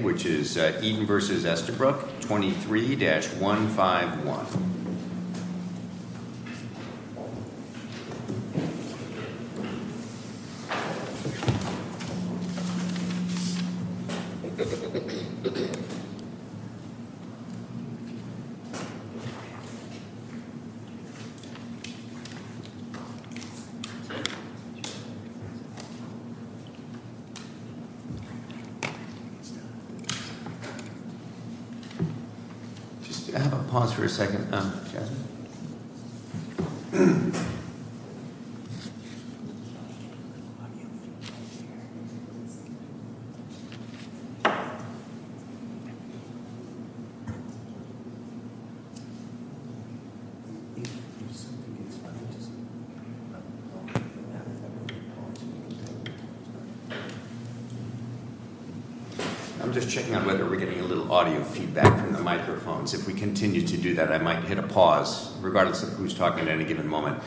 23-151. Just have a pause for a second. I'm just checking on whether we're getting a little audio feedback from the microphones. If we continue to do that, I might hit a pause, regardless of who's talking at any given moment,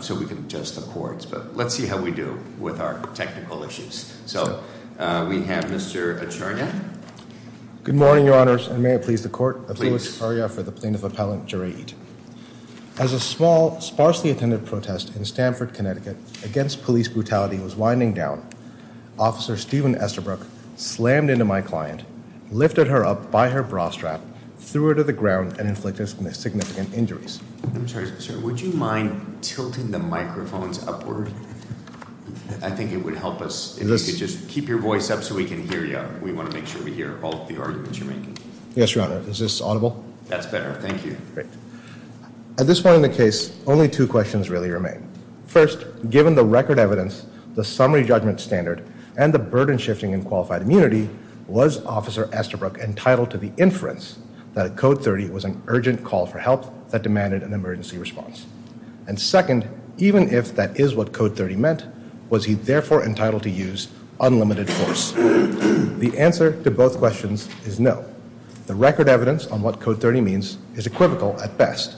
so we can adjust the cords. But let's see how we do with our technical issues. So we have Mr. Acharnia. Good morning, your honors, and may it please the court. Please. As a small, sparsely attended protest in Stanford, Connecticut, against police brutality was winding down, Officer Stephen Estabrook slammed into my client, lifted her up by her bra strap, threw her to the ground, and inflicted significant injuries. I'm sorry, sir, would you mind tilting the microphones upward? I think it would help us. If you could just keep your voice up so we can hear you. We want to make sure we hear all of the arguments you're making. Yes, your honor. Is this audible? That's better. Thank you. Great. At this point in the case, only two questions really remain. First, given the record evidence, the summary judgment standard, and the burden shifting in qualified immunity, was Officer Estabrook entitled to the inference that a Code 30 was an urgent call for help that demanded an emergency response? And second, even if that is what Code 30 meant, was he therefore entitled to use unlimited force? The answer to both questions is no. The record evidence on what Code 30 means is equivocal at best.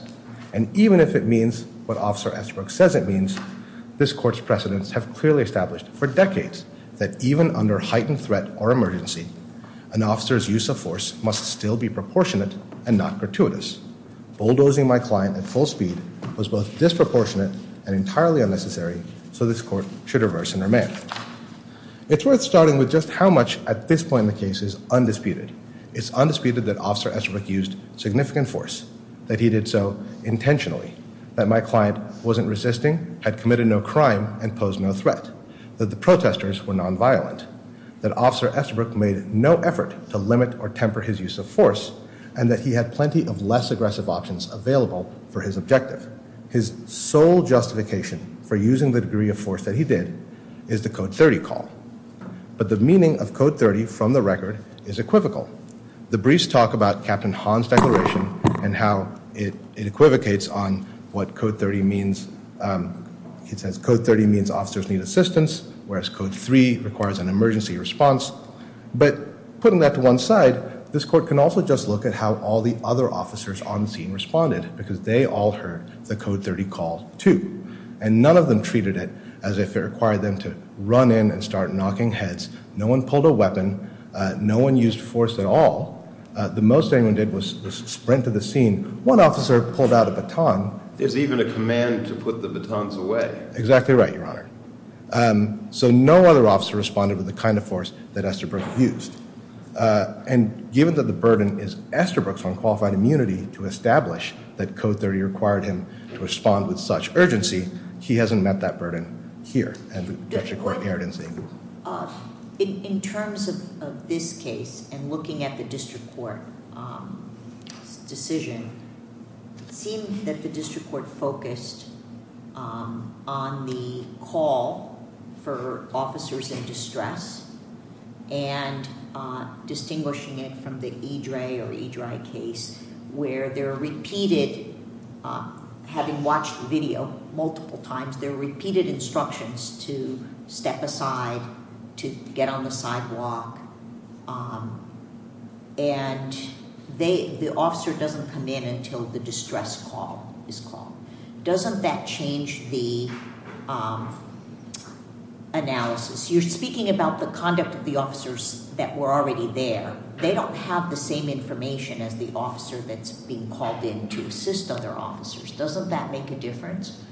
And even if it means what Officer Estabrook says it means, this court's precedents have clearly established for decades that even under heightened threat or emergency, an officer's use of force must still be proportionate and not gratuitous. Bulldozing my client at full speed was both disproportionate and entirely unnecessary, so this court should reverse and remain. It's worth starting with just how much at this point in the case is undisputed. It's undisputed that Officer Estabrook used significant force, that he did so intentionally, that my client wasn't resisting, had committed no crime, and posed no threat, that the protesters were nonviolent, that Officer Estabrook made no effort to limit or temper his use of force, and that he had plenty of less aggressive options available for his objective. His sole justification for using the degree of force that he did is the Code 30 call. But the meaning of Code 30 from the record is equivocal. The briefs talk about Captain Hahn's declaration and how it equivocates on what Code 30 means. It says Code 30 means officers need assistance, whereas Code 3 requires an emergency response. But putting that to one side, this court can also just look at how all the other officers on the scene responded, because they all heard the Code 30 call too, and none of them treated it as if it required them to run in and start knocking heads. No one pulled a weapon. No one used force at all. The most anyone did was sprint to the scene. One officer pulled out a baton. There's even a command to put the batons away. Exactly right, Your Honor. So no other officer responded with the kind of force that Esterbrook used. And given that the burden is Esterbrook's unqualified immunity to establish that Code 30 required him to respond with such urgency, he hasn't met that burden here at the district court in Arden City. In terms of this case and looking at the district court's decision, it seemed that the district court focused on the call for officers in distress and distinguishing it from the Idre or Idry case where there are repeated, having watched the video multiple times, there are repeated instructions to step aside, to get on the sidewalk, and the officer doesn't come in until the distress call is called. Doesn't that change the analysis? You're speaking about the conduct of the officers that were already there. They don't have the same information as the officer that's being called in to assist other officers. Doesn't that make a difference?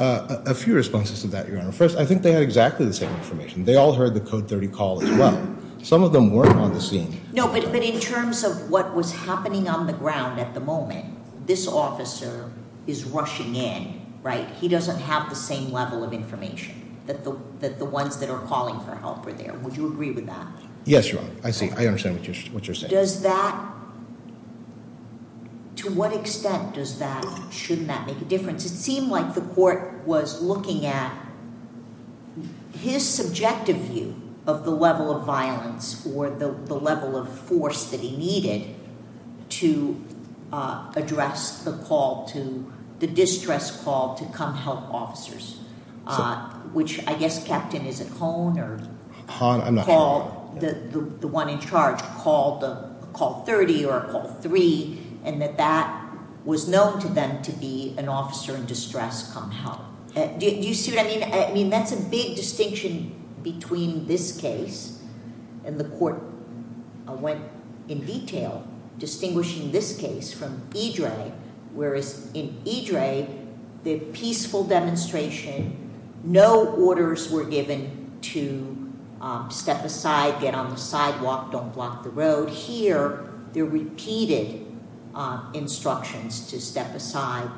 A few responses to that, Your Honor. First, I think they had exactly the same information. They all heard the Code 30 call as well. Some of them weren't on the scene. No, but in terms of what was happening on the ground at the moment, this officer is rushing in, right? He doesn't have the same level of information that the ones that are calling for help were there. Would you agree with that? Yes, Your Honor. I see. I understand what you're saying. Does that—to what extent does that—shouldn't that make a difference? It seemed like the court was looking at his subjective view of the level of violence or the level of force that he needed to address the call to—the distress call to come help officers, which I guess Captain is at home or... I'm not home... the one in charge called a call 30 or a call 3, and that that was known to them to be an officer in distress come help. Do you see what I mean? That's a big distinction between this case and the court went in detail distinguishing this case from Idre, whereas in Idre, the peaceful demonstration, no orders were given to step aside, get on the sidewalk, don't block the road. Here, there are repeated instructions to step aside,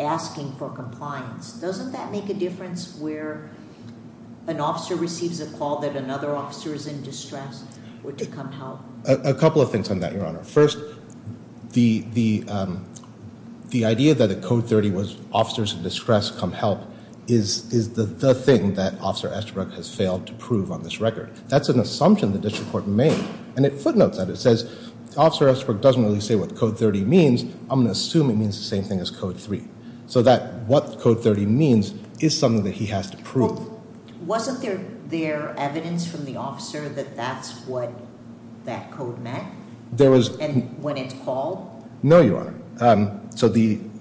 asking for compliance. Doesn't that make a difference where an officer receives a call that another officer is in distress or to come help? First, the idea that a code 30 was officers in distress come help is the thing that Officer Estabrook has failed to prove on this record. That's an assumption the district court made, and it footnotes that. It says Officer Estabrook doesn't really say what code 30 means. I'm going to assume it means the same thing as code 3, so that what code 30 means is something that he has to prove. Wasn't there evidence from the officer that that's what that code meant? When it's called? No, Your Honor.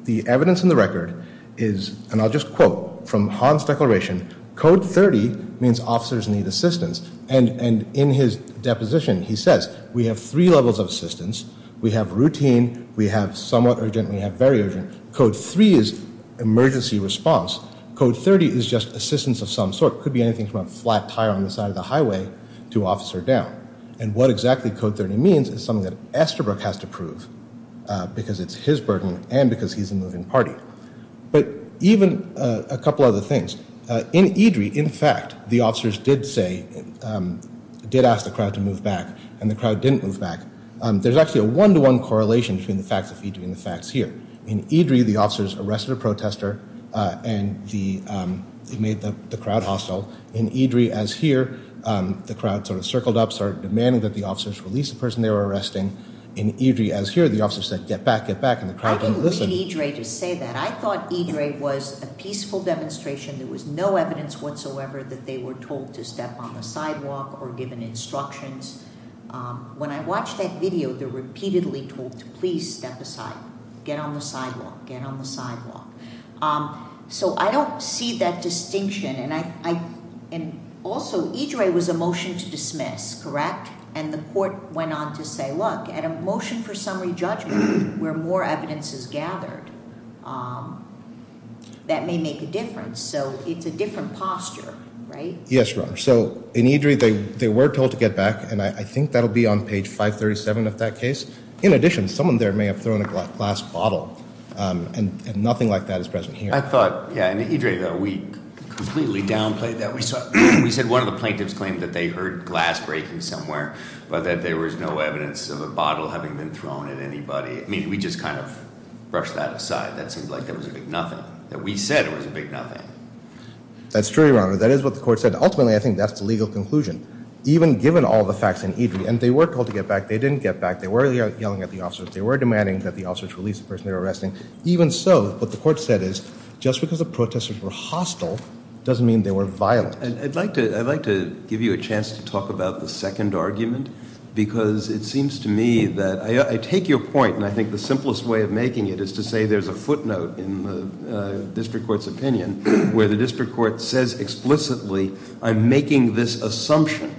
The evidence in the record is, and I'll just quote from Hahn's declaration, code 30 means officers need assistance, and in his deposition, he says, we have three levels of assistance. We have routine. We have somewhat urgent. We have very urgent. Code 3 is emergency response. Code 30 is just assistance of some sort. It could be anything from a flat tire on the side of the highway to officer down. And what exactly code 30 means is something that Estabrook has to prove because it's his burden and because he's a moving party. But even a couple other things. In Eadry, in fact, the officers did say, did ask the crowd to move back, and the crowd didn't move back. There's actually a one-to-one correlation between the facts of Eadry and the facts here. In Eadry, the officers arrested a protester and made the crowd hostile. In Eadry, as here, the crowd sort of circled up, started demanding that the officers release the person they were arresting. In Eadry, as here, the officers said, get back, get back, and the crowd didn't listen. I didn't read Eadry to say that. I thought Eadry was a peaceful demonstration. There was no evidence whatsoever that they were told to step on the sidewalk or given instructions. When I watched that video, they're repeatedly told to please step aside, get on the sidewalk, get on the sidewalk. So I don't see that distinction. Also, Eadry was a motion to dismiss, correct? And the court went on to say, look, at a motion for summary judgment where more evidence is gathered, that may make a difference. So it's a different posture, right? Yes, Your Honor. So in Eadry, they were told to get back, and I think that will be on page 537 of that case. In addition, someone there may have thrown a glass bottle, and nothing like that is present here. I thought, yeah, in Eadry, though, we completely downplayed that. We said one of the plaintiffs claimed that they heard glass breaking somewhere but that there was no evidence of a bottle having been thrown at anybody. I mean, we just kind of brushed that aside. That seemed like it was a big nothing. We said it was a big nothing. That's true, Your Honor. That is what the court said. Ultimately, I think that's the legal conclusion. Even given all the facts in Eadry, and they were told to get back. They didn't get back. They were yelling at the officers. They were demanding that the officers release the person they were arresting. Even so, what the court said is just because the protesters were hostile doesn't mean they were violent. I'd like to give you a chance to talk about the second argument because it seems to me that I take your point, and I think the simplest way of making it is to say there's a footnote in the district court's opinion where the district court says explicitly, I'm making this assumption,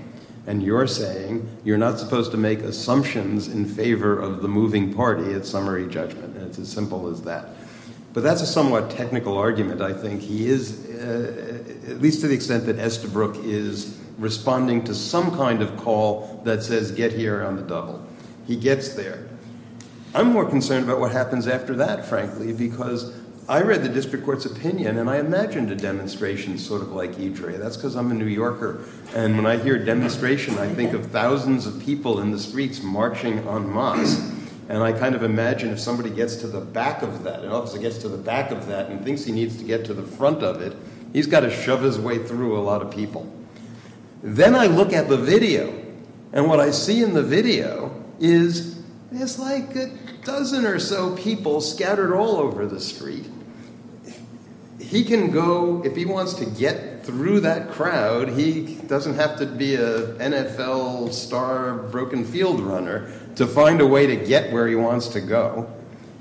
and you're saying you're not supposed to make assumptions in favor of the moving party at summary judgment. It's as simple as that. But that's a somewhat technical argument, I think. He is, at least to the extent that Estabrook is, responding to some kind of call that says get here on the double. He gets there. I'm more concerned about what happens after that, frankly, because I read the district court's opinion, and I imagined a demonstration sort of like Eadry. That's because I'm a New Yorker, and when I hear a demonstration, I think of thousands of people in the streets marching en masse, and I kind of imagine if somebody gets to the back of that and obviously gets to the back of that and thinks he needs to get to the front of it, he's got to shove his way through a lot of people. Then I look at the video, and what I see in the video is it's like a dozen or so people scattered all over the street. He can go, if he wants to get through that crowd, he doesn't have to be an NFL star broken field runner to find a way to get where he wants to go.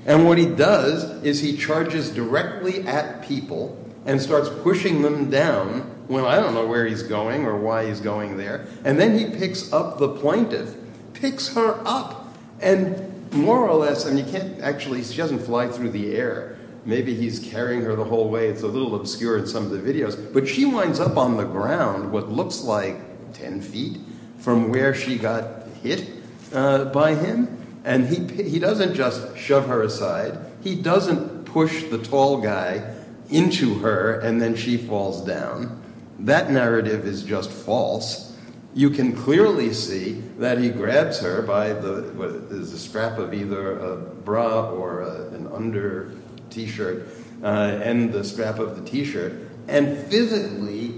And what he does is he charges directly at people and starts pushing them down. Well, I don't know where he's going or why he's going there. And then he picks up the plaintiff, picks her up, and more or less, and you can't actually... She doesn't fly through the air. Maybe he's carrying her the whole way. It's a little obscure in some of the videos. But she winds up on the ground, what looks like 10 feet from where she got hit by him. And he doesn't just shove her aside. He doesn't push the tall guy into her, and then she falls down. That narrative is just false. You can clearly see that he grabs her by the scrap of either a bra or an under T-shirt, and the scrap of the T-shirt, and physically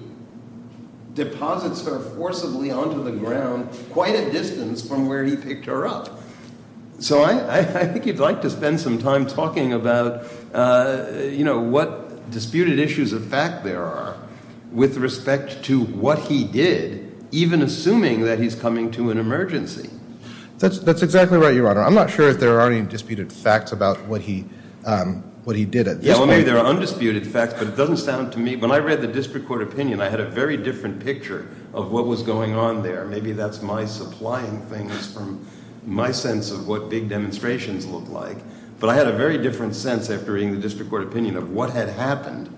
deposits her forcibly onto the ground quite a distance from where he picked her up. So I think you'd like to spend some time talking about what disputed issues of fact there are with respect to what he did, even assuming that he's coming to an emergency. That's exactly right, Your Honor. I'm not sure if there are any disputed facts about what he did at this point. Well, maybe there are undisputed facts, but it doesn't sound to me... When I read the district court opinion, I had a very different picture of what was going on there. Maybe that's my supplying things from my sense of what big demonstrations look like. But I had a very different sense after reading the district court opinion of what had happened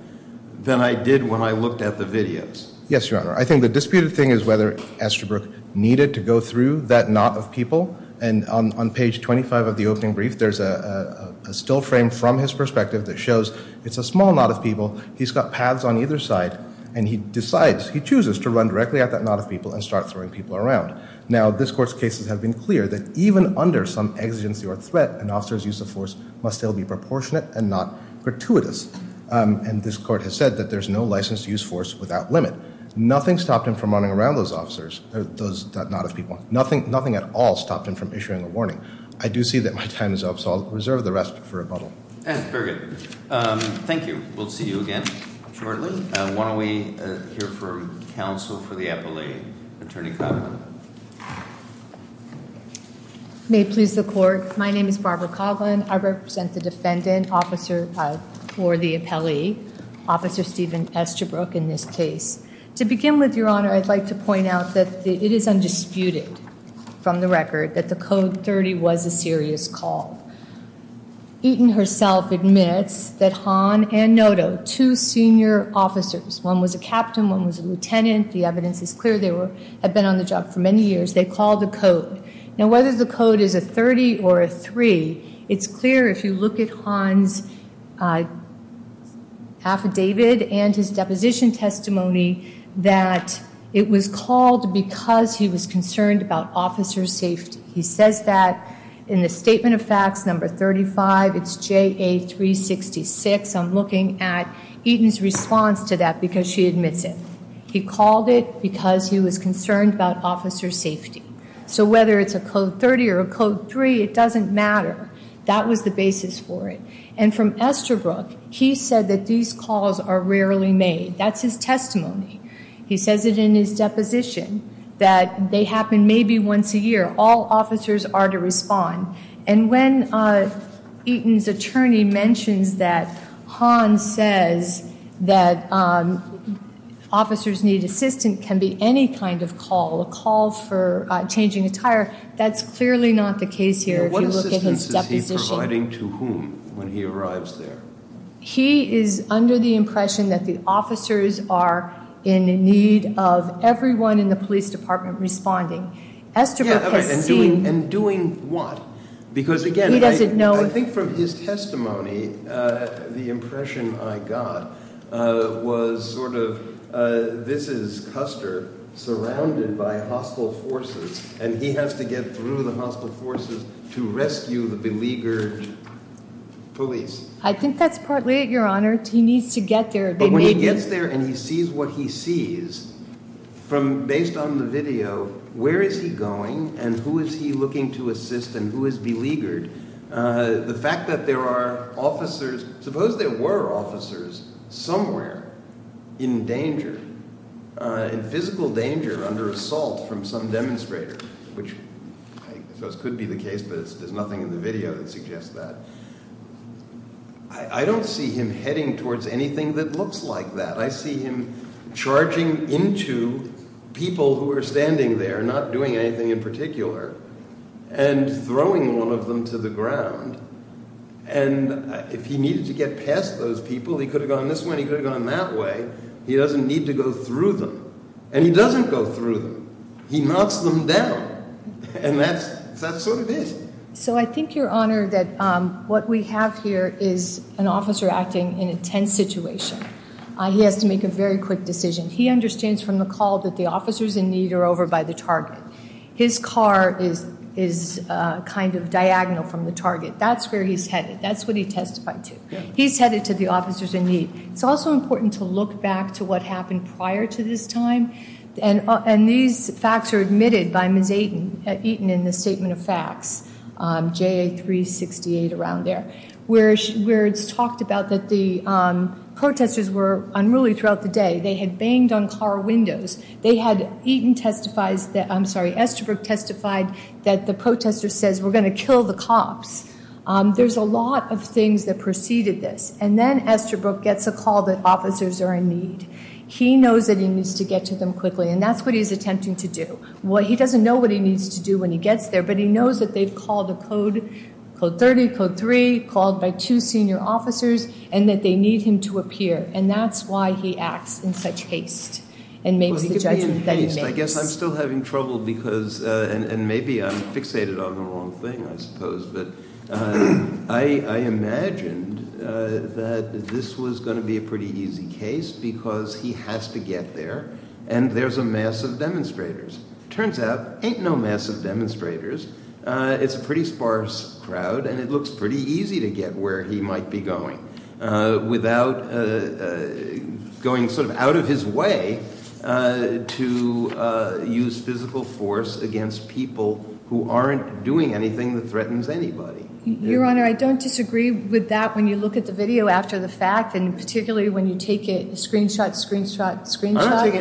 than I did when I looked at the videos. Yes, Your Honor. I think the disputed thing is whether Estabrook needed to go through that knot of people. And on page 25 of the opening brief, there's a still frame from his perspective that shows it's a small knot of people. He's got paths on either side, and he decides, he chooses, to run directly at that knot of people and start throwing people around. Now, this court's cases have been clear that even under some exigency or threat, an officer's use of force must still be proportionate and not gratuitous. And this court has said that there's no license to use force without limit. Nothing stopped him from running around those officers, that knot of people. Nothing at all stopped him from issuing a warning. I do see that my time is up, so I'll reserve the rest for rebuttal. Very good. Thank you. We'll see you again shortly. Why don't we hear from counsel for the appellee, Attorney Coughlin. May it please the court. My name is Barbara Coughlin. I represent the defendant, officer for the appellee, Officer Steven Estabrook, in this case. To begin with, Your Honor, I'd like to point out that it is undisputed from the record that the Code 30 was a serious call. Eaton herself admits that Hahn and Noto, two senior officers, one was a captain, one was a lieutenant. The evidence is clear. They had been on the job for many years. They called the Code. Now, whether the Code is a 30 or a 3, it's clear if you look at Hahn's affidavit that it was called because he was concerned about officers' safety. He says that in the statement of facts, number 35, it's JA366. I'm looking at Eaton's response to that because she admits it. He called it because he was concerned about officers' safety. So whether it's a Code 30 or a Code 3, it doesn't matter. That was the basis for it. And from Estabrook, he said that these calls are rarely made. That's his testimony. He says it in his deposition that they happen maybe once a year. All officers are to respond. And when Eaton's attorney mentions that Hahn says that officers need assistance can be any kind of call, a call for changing a tire, that's clearly not the case here if you look at his deposition. What assistance is he providing to whom when he arrives there? He is under the impression that the officers are in need of everyone in the police department responding. Estabrook has seen... And doing what? Because again... He doesn't know... I think from his testimony, the impression I got was sort of this is Custer surrounded by hostile forces and he has to get through the hostile forces to rescue the beleaguered police. I think that's partly it, Your Honor. He needs to get there. But when he gets there and he sees what he sees, based on the video, where is he going and who is he looking to assist and who is beleaguered, the fact that there are officers... Suppose there were officers somewhere in danger, in physical danger under assault from some demonstrator, which I suppose could be the case but there's nothing in the video that suggests that. I don't see him heading towards anything that looks like that. I see him charging into people who are standing there, not doing anything in particular, and throwing one of them to the ground. And if he needed to get past those people, he could have gone this way and he could have gone that way. He doesn't need to go through them. And he doesn't go through them. He knocks them down. And that's what it is. So I think, Your Honor, that what we have here is an officer acting in a tense situation. He has to make a very quick decision. He understands from the call that the officers in need are over by the target. His car is kind of diagonal from the target. That's where he's headed. That's what he testified to. He's headed to the officers in need. It's also important to look back to what happened prior to this time. And these facts are admitted by Ms. Eaton in the Statement of Facts, JA 368, around there, where it's talked about that the protesters were unruly throughout the day. They had banged on car windows. They had Eaton testify, I'm sorry, Esterbrook testified that the protesters said, we're going to kill the cops. There's a lot of things that preceded this. And then Esterbrook gets a call that officers are in need. He knows that he needs to get to them quickly. And that's what he's attempting to do. Well, he doesn't know what he needs to do when he gets there, but he knows that they've called a code, Code 30, Code 3, called by two senior officers, and that they need him to appear. And that's why he acts in such haste and makes the judgment that he makes. Well, he could be in haste. I guess I'm still having trouble because, and maybe I'm fixated on the wrong thing, I suppose, but I imagined that this was going to be a pretty easy case because he has to get there, and there's a mass of demonstrators. Turns out, ain't no mass of demonstrators. It's a pretty sparse crowd, and it looks pretty easy to get where he might be going without going sort of out of his way to use physical force against people who aren't doing anything that threatens anybody. Your Honor, I don't disagree with that when you look at the video after the fact, and particularly when you take a screenshot, screenshot, screenshot.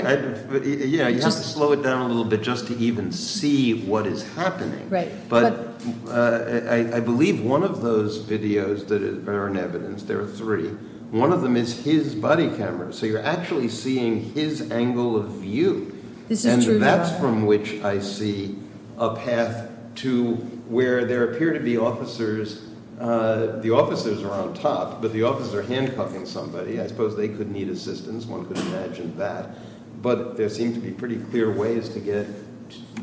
Yeah, you have to slow it down a little bit just to even see what is happening. I believe one of those videos that are in evidence, there are three, one of them is his body camera, so you're actually seeing his angle of view, and that's from which I see a path to where there appear to be officers. The officers are on top, but the officers are handcuffing somebody. I suppose they could need assistance. One could imagine that, but there seem to be pretty clear ways to get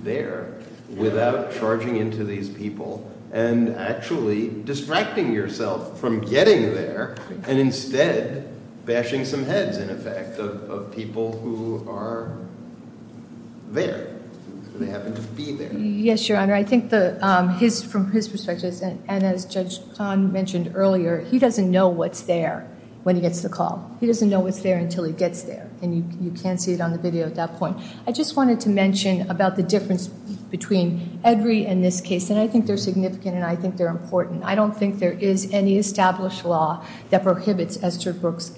there without charging into these people and actually distracting yourself from getting there and instead bashing some heads, in effect, of people who are there. They happen to be there. Yes, Your Honor. I think from his perspective, and as Judge Tan mentioned earlier, he doesn't know what's there when he gets the call. He doesn't know what's there until he gets there, and you can see it on the video at that point. I just wanted to mention about the difference between Edry and this case, and I think they're significant, and I think they're important. I don't think there is any established law that prohibits Esther Brooks'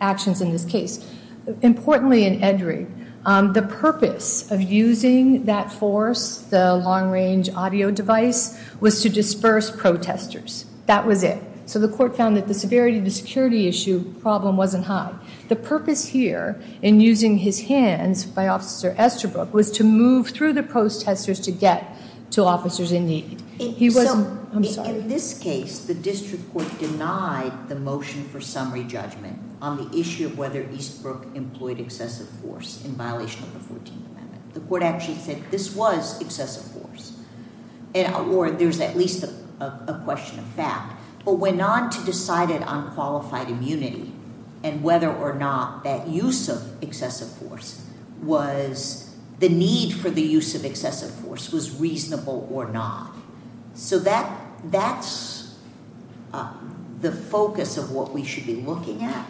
actions in this case. Importantly in Edry, the purpose of using that force, the long-range audio device, was to disperse protesters. That was it. So the court found that the severity of the security issue problem wasn't high. The purpose here in using his hands by Officer Esther Brooks was to move through the protesters to get to officers in need. He was... I'm sorry. In this case, the district court denied the motion for summary judgment on the issue of whether Eastbrook employed excessive force in violation of the 14th Amendment. The court actually said this was excessive force, or there's at least a question of fact, but went on to decide it on qualified immunity and whether or not that use of excessive force was... the need for the use of excessive force was reasonable or not. So that's the focus of what we should be looking at,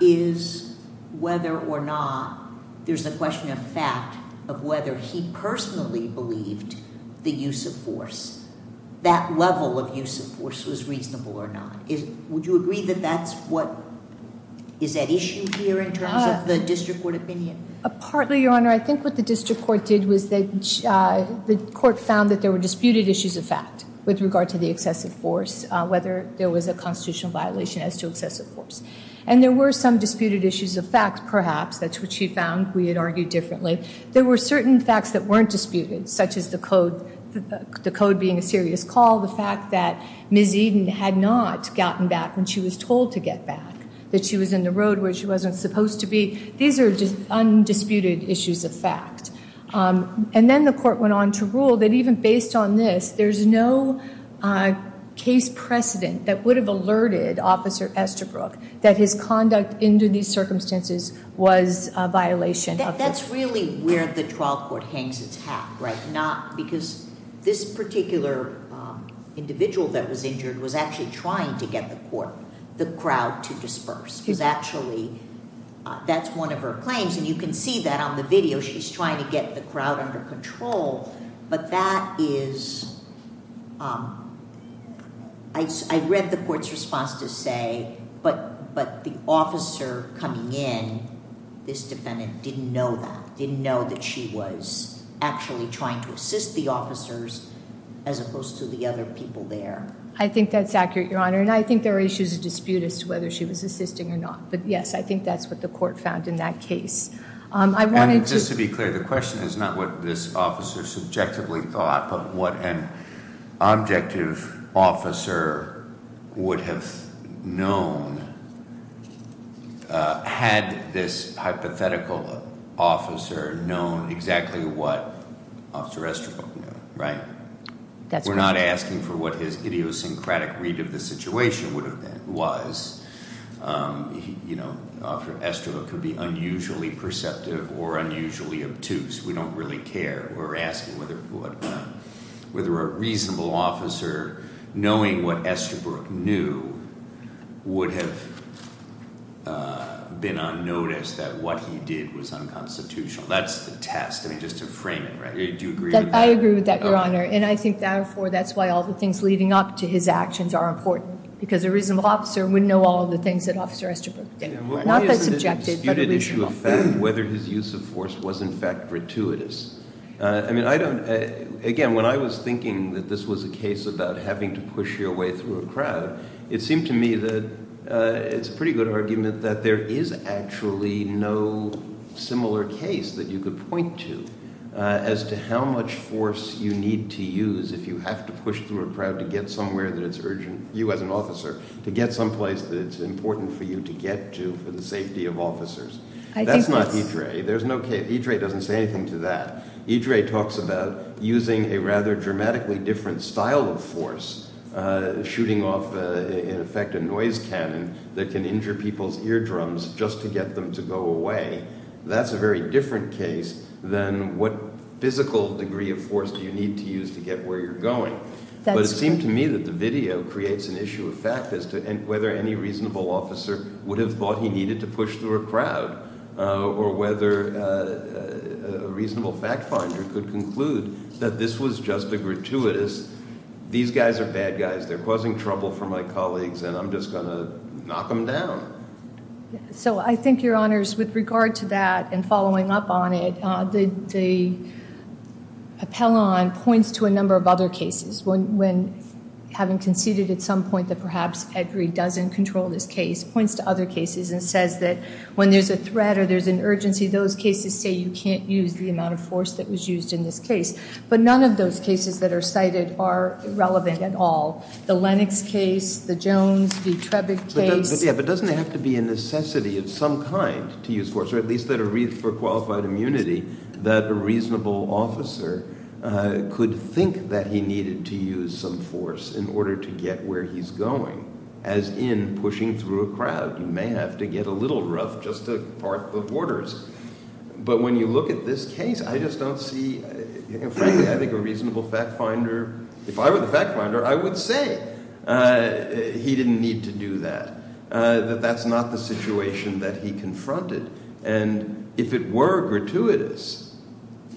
is whether or not there's a question of fact of whether he personally believed the use of force, that level of use of force was reasonable or not. Would you agree that that's what... is at issue here in terms of the district court opinion? Partly, Your Honor. I think what the district court did was that the court found that there were disputed issues of fact with regard to the excessive force, whether there was a constitutional violation as to excessive force. And there were some disputed issues of fact, perhaps. That's what she found. We had argued differently. There were certain facts that weren't disputed, such as the code being a serious call, the fact that Ms. Eden had not gotten back when she was told to get back, that she was in the road where she wasn't supposed to be. These are just undisputed issues of fact. And then the court went on to rule that even based on this, there's no case precedent that would have alerted Officer Estabrook that his conduct under these circumstances was a violation of... That's really where the trial court hangs its hat, right? Because this particular individual that was injured was actually trying to get the court, the crowd, to disperse. Because actually, that's one of her claims. And you can see that on the video. She's trying to get the crowd under control. But that is... I read the court's response to say, but the officer coming in, this defendant, didn't know that, didn't know that she was actually trying to assist the officers as opposed to the other people there. I think that's accurate, Your Honour. And I think there are issues of dispute as to whether she was assisting or not. But, yes, I think that's what the court found in that case. I wanted to... And just to be clear, the question is not what this officer subjectively thought, but what an objective officer would have known had this hypothetical officer known exactly what Officer Estabrook knew, right? That's correct. We're not asking for what his idiosyncratic read of the situation would have been, was. You know, Officer Estabrook could be unusually perceptive or unusually obtuse. We don't really care. We're asking whether a reasonable officer, knowing what Estabrook knew, would have been unnoticed that what he did was unconstitutional. That's the test. I mean, just to frame it, right? Do you agree with that? I agree with that, Your Honour. And I think, therefore, that's why all the things leading up to his actions are important, because a reasonable officer would know all the things that Officer Estabrook did. Not that subjective, but a reasonable. Whether his use of force was, in fact, gratuitous. I mean, I don't, again, when I was thinking that this was a case about having to push your way through a crowd, it seemed to me that it's a pretty good argument that there is actually no similar case that you could point to as to how much force you need to use if you have to push through a crowd to get somewhere that it's urgent, you as an officer, to get someplace that it's important for you to get to for the safety of officers. That's not Idre. Idre doesn't say anything to that. Idre talks about using a rather dramatically different style of force, shooting off, in effect, a noise cannon that can injure people's eardrums just to get them to go away. That's a very different case than what physical degree of force do you need to use to get where you're going. But it seemed to me that the video creates an issue of fact as to whether any reasonable officer would have thought he needed to push through a crowd or whether a reasonable fact finder could conclude that this was just a gratuitous, these guys are bad guys, they're causing trouble for my colleagues, and I'm just going to knock them down. So I think, Your Honors, with regard to that and following up on it, the appellant points to a number of other cases when, having conceded at some point that perhaps Idre doesn't control this case, points to other cases and says that when there's a threat or there's an urgency, those cases say you can't use the amount of force that was used in this case. But none of those cases that are cited are relevant at all. The Lennox case, the Jones v. Trebek case. But doesn't it have to be a necessity of some kind to use force, or at least for qualified immunity, that a reasonable officer could think that he needed to use some force in order to get where he's going, as in pushing through a crowd. You may have to get a little rough just to part the borders. But when you look at this case, I just don't see, frankly, I think a reasonable fact finder, if I were the fact finder, I would say he didn't need to do that, that that's not the situation that he confronted. And if it were gratuitous,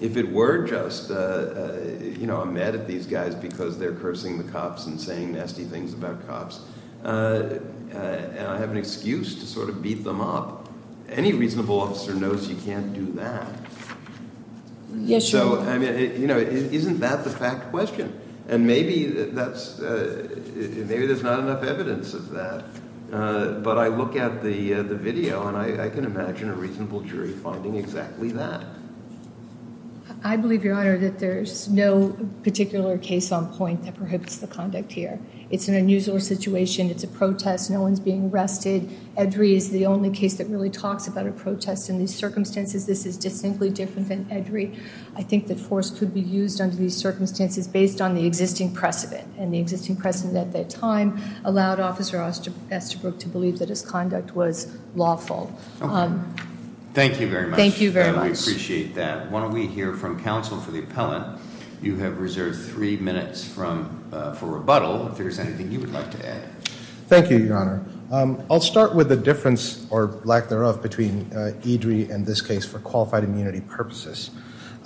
if it were just, you know, I'm mad at these guys because they're cursing the cops and saying nasty things about cops, and I have an excuse to sort of beat them up, any reasonable officer knows you can't do that. Yes, Your Honor. Isn't that the fact question? And maybe there's not enough evidence of that. But I look at the video, and I can imagine a reasonable jury finding exactly that. I believe, Your Honor, that there's no particular case on point that prohibits the conduct here. It's an unusual situation. It's a protest. No one's being arrested. Edry is the only case that really talks about a protest in these circumstances. This is distinctly different than Edry. I think that force could be used under these circumstances based on the existing precedent, and the existing precedent at that time allowed Officer Osterbrook to believe that his conduct was lawful. Okay. Thank you very much. We appreciate that. Why don't we hear from counsel for the appellant? You have reserved three minutes for rebuttal, if there's anything you would like to add. Thank you, Your Honor. I'll start with the difference, or lack thereof, between Edry and this case for qualified immunity purposes.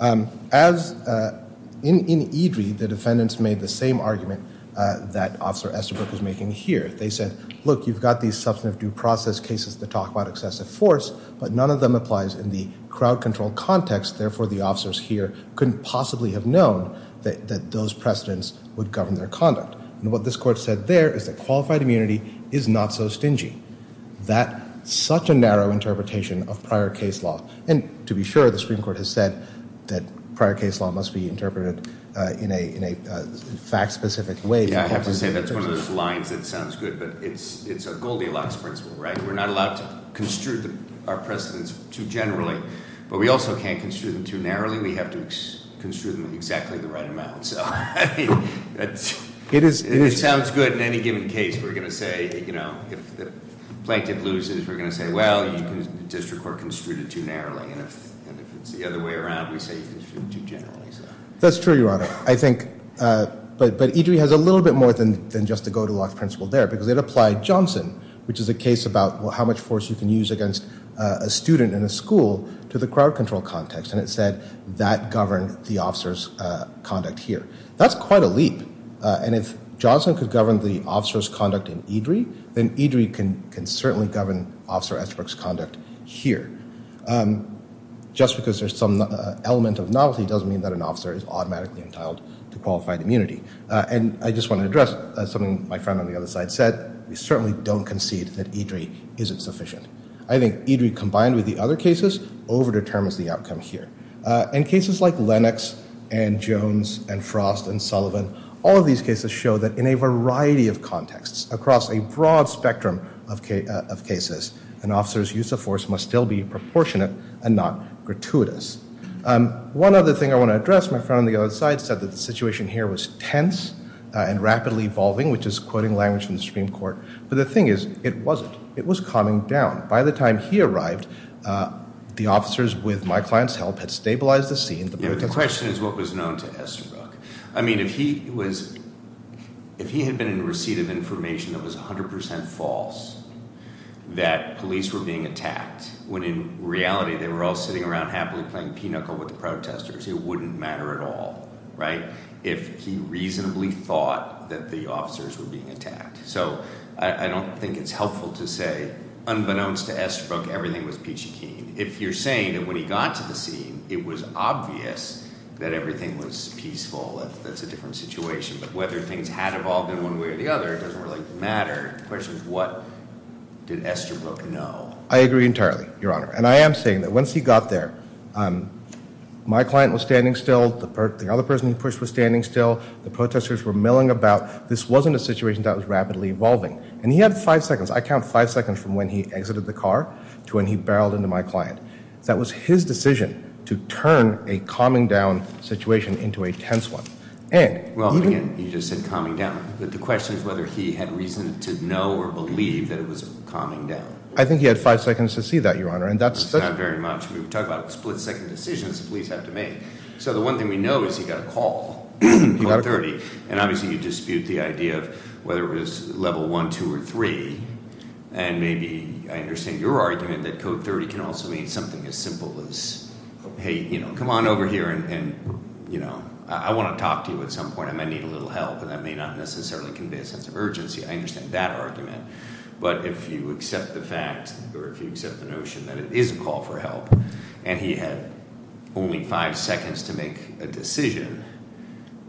In Edry, the defendants made the same argument that Officer Osterbrook was making here. They said, look, you've got these substantive due process cases that talk about excessive force, but none of them applies in the crowd control context, therefore the officers here couldn't possibly have known that those precedents would govern their conduct. And what this court said there is that qualified immunity is not so stingy. That's such a narrow interpretation of prior case law. And to be sure, the Supreme Court has said that prior case law must be interpreted in a fact-specific way. Yeah, I have to say that's one of those lines that sounds good, but it's a Goldilocks principle, right? We're not allowed to construe our precedents too generally, but we also can't construe them too narrowly. We have to construe them in exactly the right amount. So, I mean, it sounds good in any given case. We're going to say, you know, if the plaintiff loses, we're going to say, well, the district court construed it too narrowly. And if it's the other way around, we say you construed it too generally. That's true, Your Honor. I think, but Edry has a little bit more than just the Goldilocks principle there, because it applied Johnson, which is a case about how much force you can use against a student in a school, to the crowd control context. And it said that governed the officer's conduct here. That's quite a leap. And if Johnson could govern the officer's conduct in Edry, then Edry can certainly govern Officer Estbrook's conduct here. Just because there's some element of novelty doesn't mean that an officer is automatically entitled to qualified immunity. And I just want to address something my friend on the other side said. We certainly don't concede that Edry isn't sufficient. I think Edry, combined with the other cases, over determines the outcome here. In cases like Lennox and Jones and Frost and Sullivan, all of these cases show that in a variety of contexts, across a broad spectrum of cases, an officer's use of force must still be proportionate and not gratuitous. One other thing I want to address, my friend on the other side said that the situation here was tense and rapidly evolving, which is quoting language from the Supreme Court. But the thing is, it wasn't. It was calming down. By the time he arrived, the officers, with my client's help, had stabilized the scene. The question is what was known to Estbrook. I mean, if he had been in receipt of information that was 100% false, that police were being attacked, when in reality they were all sitting around happily playing pinochle with the protesters, it wouldn't matter at all, right, if he reasonably thought that the officers were being attacked. So I don't think it's helpful to say, unbeknownst to Estbrook, everything was peachy keen. If you're saying that when he got to the scene, it was obvious that everything was peaceful, that that's a different situation, but whether things had evolved in one way or the other, it doesn't really matter. The question is what did Estbrook know. I agree entirely, Your Honor. And I am saying that once he got there, my client was standing still. The other person he pushed was standing still. The protesters were milling about. This wasn't a situation that was rapidly evolving. And he had five seconds. I count five seconds from when he exited the car to when he barreled into my client. That was his decision to turn a calming down situation into a tense one. Well, again, you just said calming down. But the question is whether he had reason to know or believe that it was calming down. I think he had five seconds to see that, Your Honor. That's not very much. We're talking about split-second decisions the police have to make. So the one thing we know is he got a call, Code 30. And obviously you dispute the idea of whether it was Level 1, 2, or 3. And maybe I understand your argument that Code 30 can also mean something as simple as, hey, come on over here. And I want to talk to you at some point. I might need a little help. And that may not necessarily convey a sense of urgency. I understand that argument. But if you accept the fact or if you accept the notion that it is a call for help and he had only five seconds to make a decision,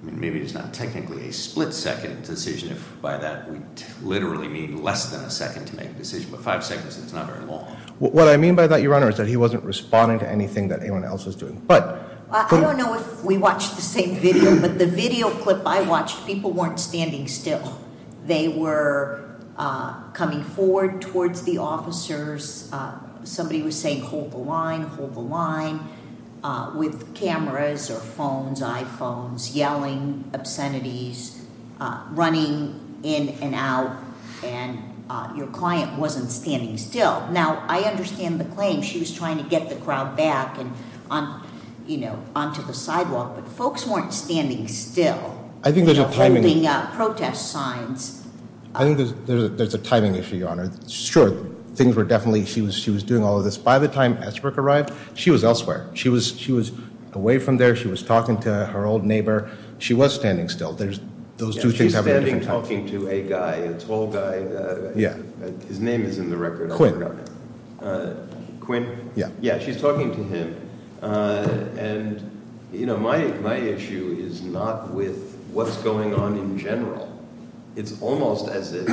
maybe it's not technically a split-second decision. By that, we literally mean less than a second to make a decision. But five seconds is not very long. What I mean by that, Your Honor, is that he wasn't responding to anything that anyone else was doing. I don't know if we watched the same video, but the video clip I watched, people weren't standing still. They were coming forward towards the officers. Somebody was saying, hold the line, hold the line, with cameras or phones, iPhones, yelling obscenities, running in and out. And your client wasn't standing still. Now, I understand the claim. She was trying to get the crowd back and, you know, onto the sidewalk. But folks weren't standing still. I think there's a timing. Holding up protest signs. I think there's a timing issue, Your Honor. Sure, things were definitely – she was doing all of this. By the time Ashbrook arrived, she was elsewhere. She was away from there. She was talking to her old neighbor. She was standing still. Those two things have a different timing. She's standing talking to a guy, a tall guy. Yeah. His name is in the record. Quinn. Quinn? Yeah. Yeah, she's talking to him. And, you know, my issue is not with what's going on in general. It's almost as if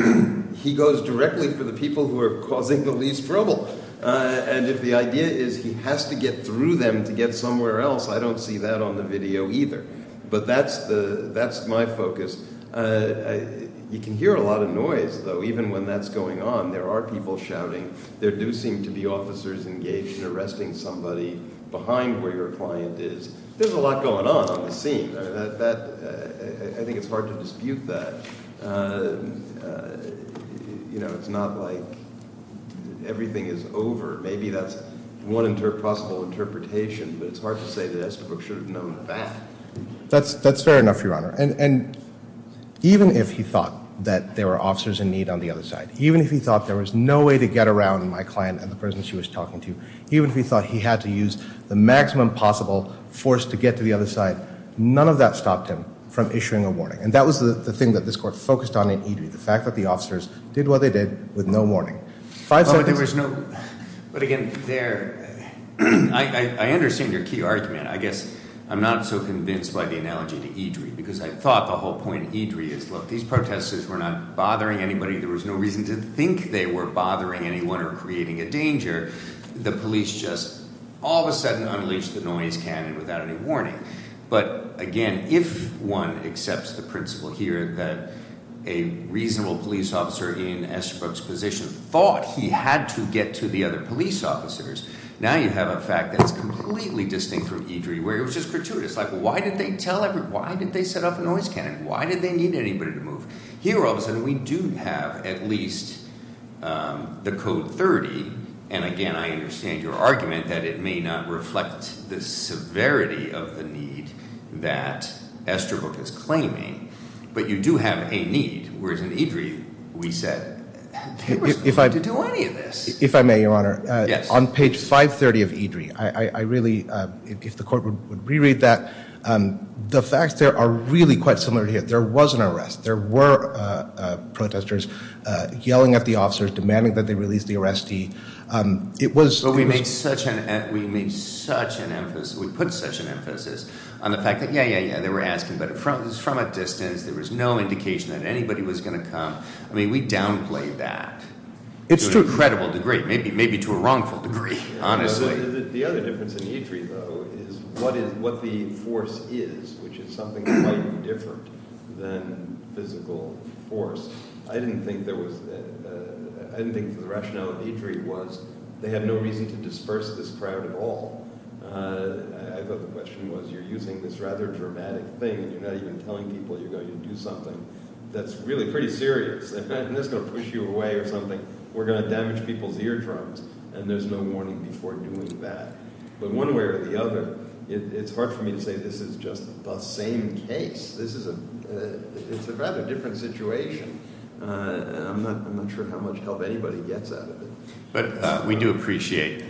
he goes directly for the people who are causing the least trouble. And if the idea is he has to get through them to get somewhere else, I don't see that on the video either. But that's my focus. You can hear a lot of noise, though, even when that's going on. There are people shouting. There do seem to be officers engaged in arresting somebody behind where your client is. There's a lot going on on the scene. I think it's hard to dispute that. You know, it's not like everything is over. Maybe that's one possible interpretation, but it's hard to say that Ashbrook should have known that. That's fair enough, Your Honor. And even if he thought that there were officers in need on the other side, even if he thought there was no way to get around my client and the person she was talking to, even if he thought he had to use the maximum possible force to get to the other side, none of that stopped him from issuing a warning. And that was the thing that this court focused on in Eadry, the fact that the officers did what they did with no warning. Oh, but there was no—but, again, there—I understand your key argument. I guess I'm not so convinced by the analogy to Eadry because I thought the whole point of Eadry is, look, these protesters were not bothering anybody. There was no reason to think they were bothering anyone or creating a danger. The police just all of a sudden unleashed the noise cannon without any warning. But, again, if one accepts the principle here that a reasonable police officer in Ashbrook's position thought he had to get to the other police officers, now you have a fact that's completely distinct from Eadry where it was just gratuitous. Like, why did they tell everybody—why did they set off a noise cannon? Why did they need anybody to move? Here, all of a sudden, we do have at least the Code 30. And, again, I understand your argument that it may not reflect the severity of the need that Estabrook is claiming, but you do have a need, whereas in Eadry we said they were not going to do any of this. If I may, Your Honor. Yes. On page 530 of Eadry, I really—if the Court would re-read that. The facts there are really quite similar to here. There was an arrest. There were protesters yelling at the officers, demanding that they release the arrestee. It was— But we made such an—we made such an emphasis—we put such an emphasis on the fact that, yeah, yeah, yeah, they were asking, but it was from a distance. There was no indication that anybody was going to come. I mean, we downplayed that. It's true. To an incredible degree, maybe to a wrongful degree, honestly. The other difference in Eadry, though, is what the force is, which is something quite different than physical force. I didn't think there was—I didn't think the rationale of Eadry was they had no reason to disperse this crowd at all. I thought the question was you're using this rather dramatic thing, and you're not even telling people you're going to do something that's really pretty serious. Imagine this is going to push you away or something. We're going to damage people's eardrums, and there's no warning before doing that. But one way or the other, it's hard for me to say this is just the same case. This is a—it's a rather different situation, and I'm not sure how much help anybody gets out of it. But we do appreciate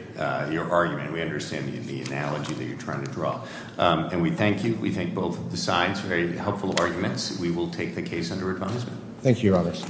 your argument. We understand the analogy that you're trying to draw, and we thank you. We thank both sides for very helpful arguments. We will take the case under advisement. Thank you, Roberts.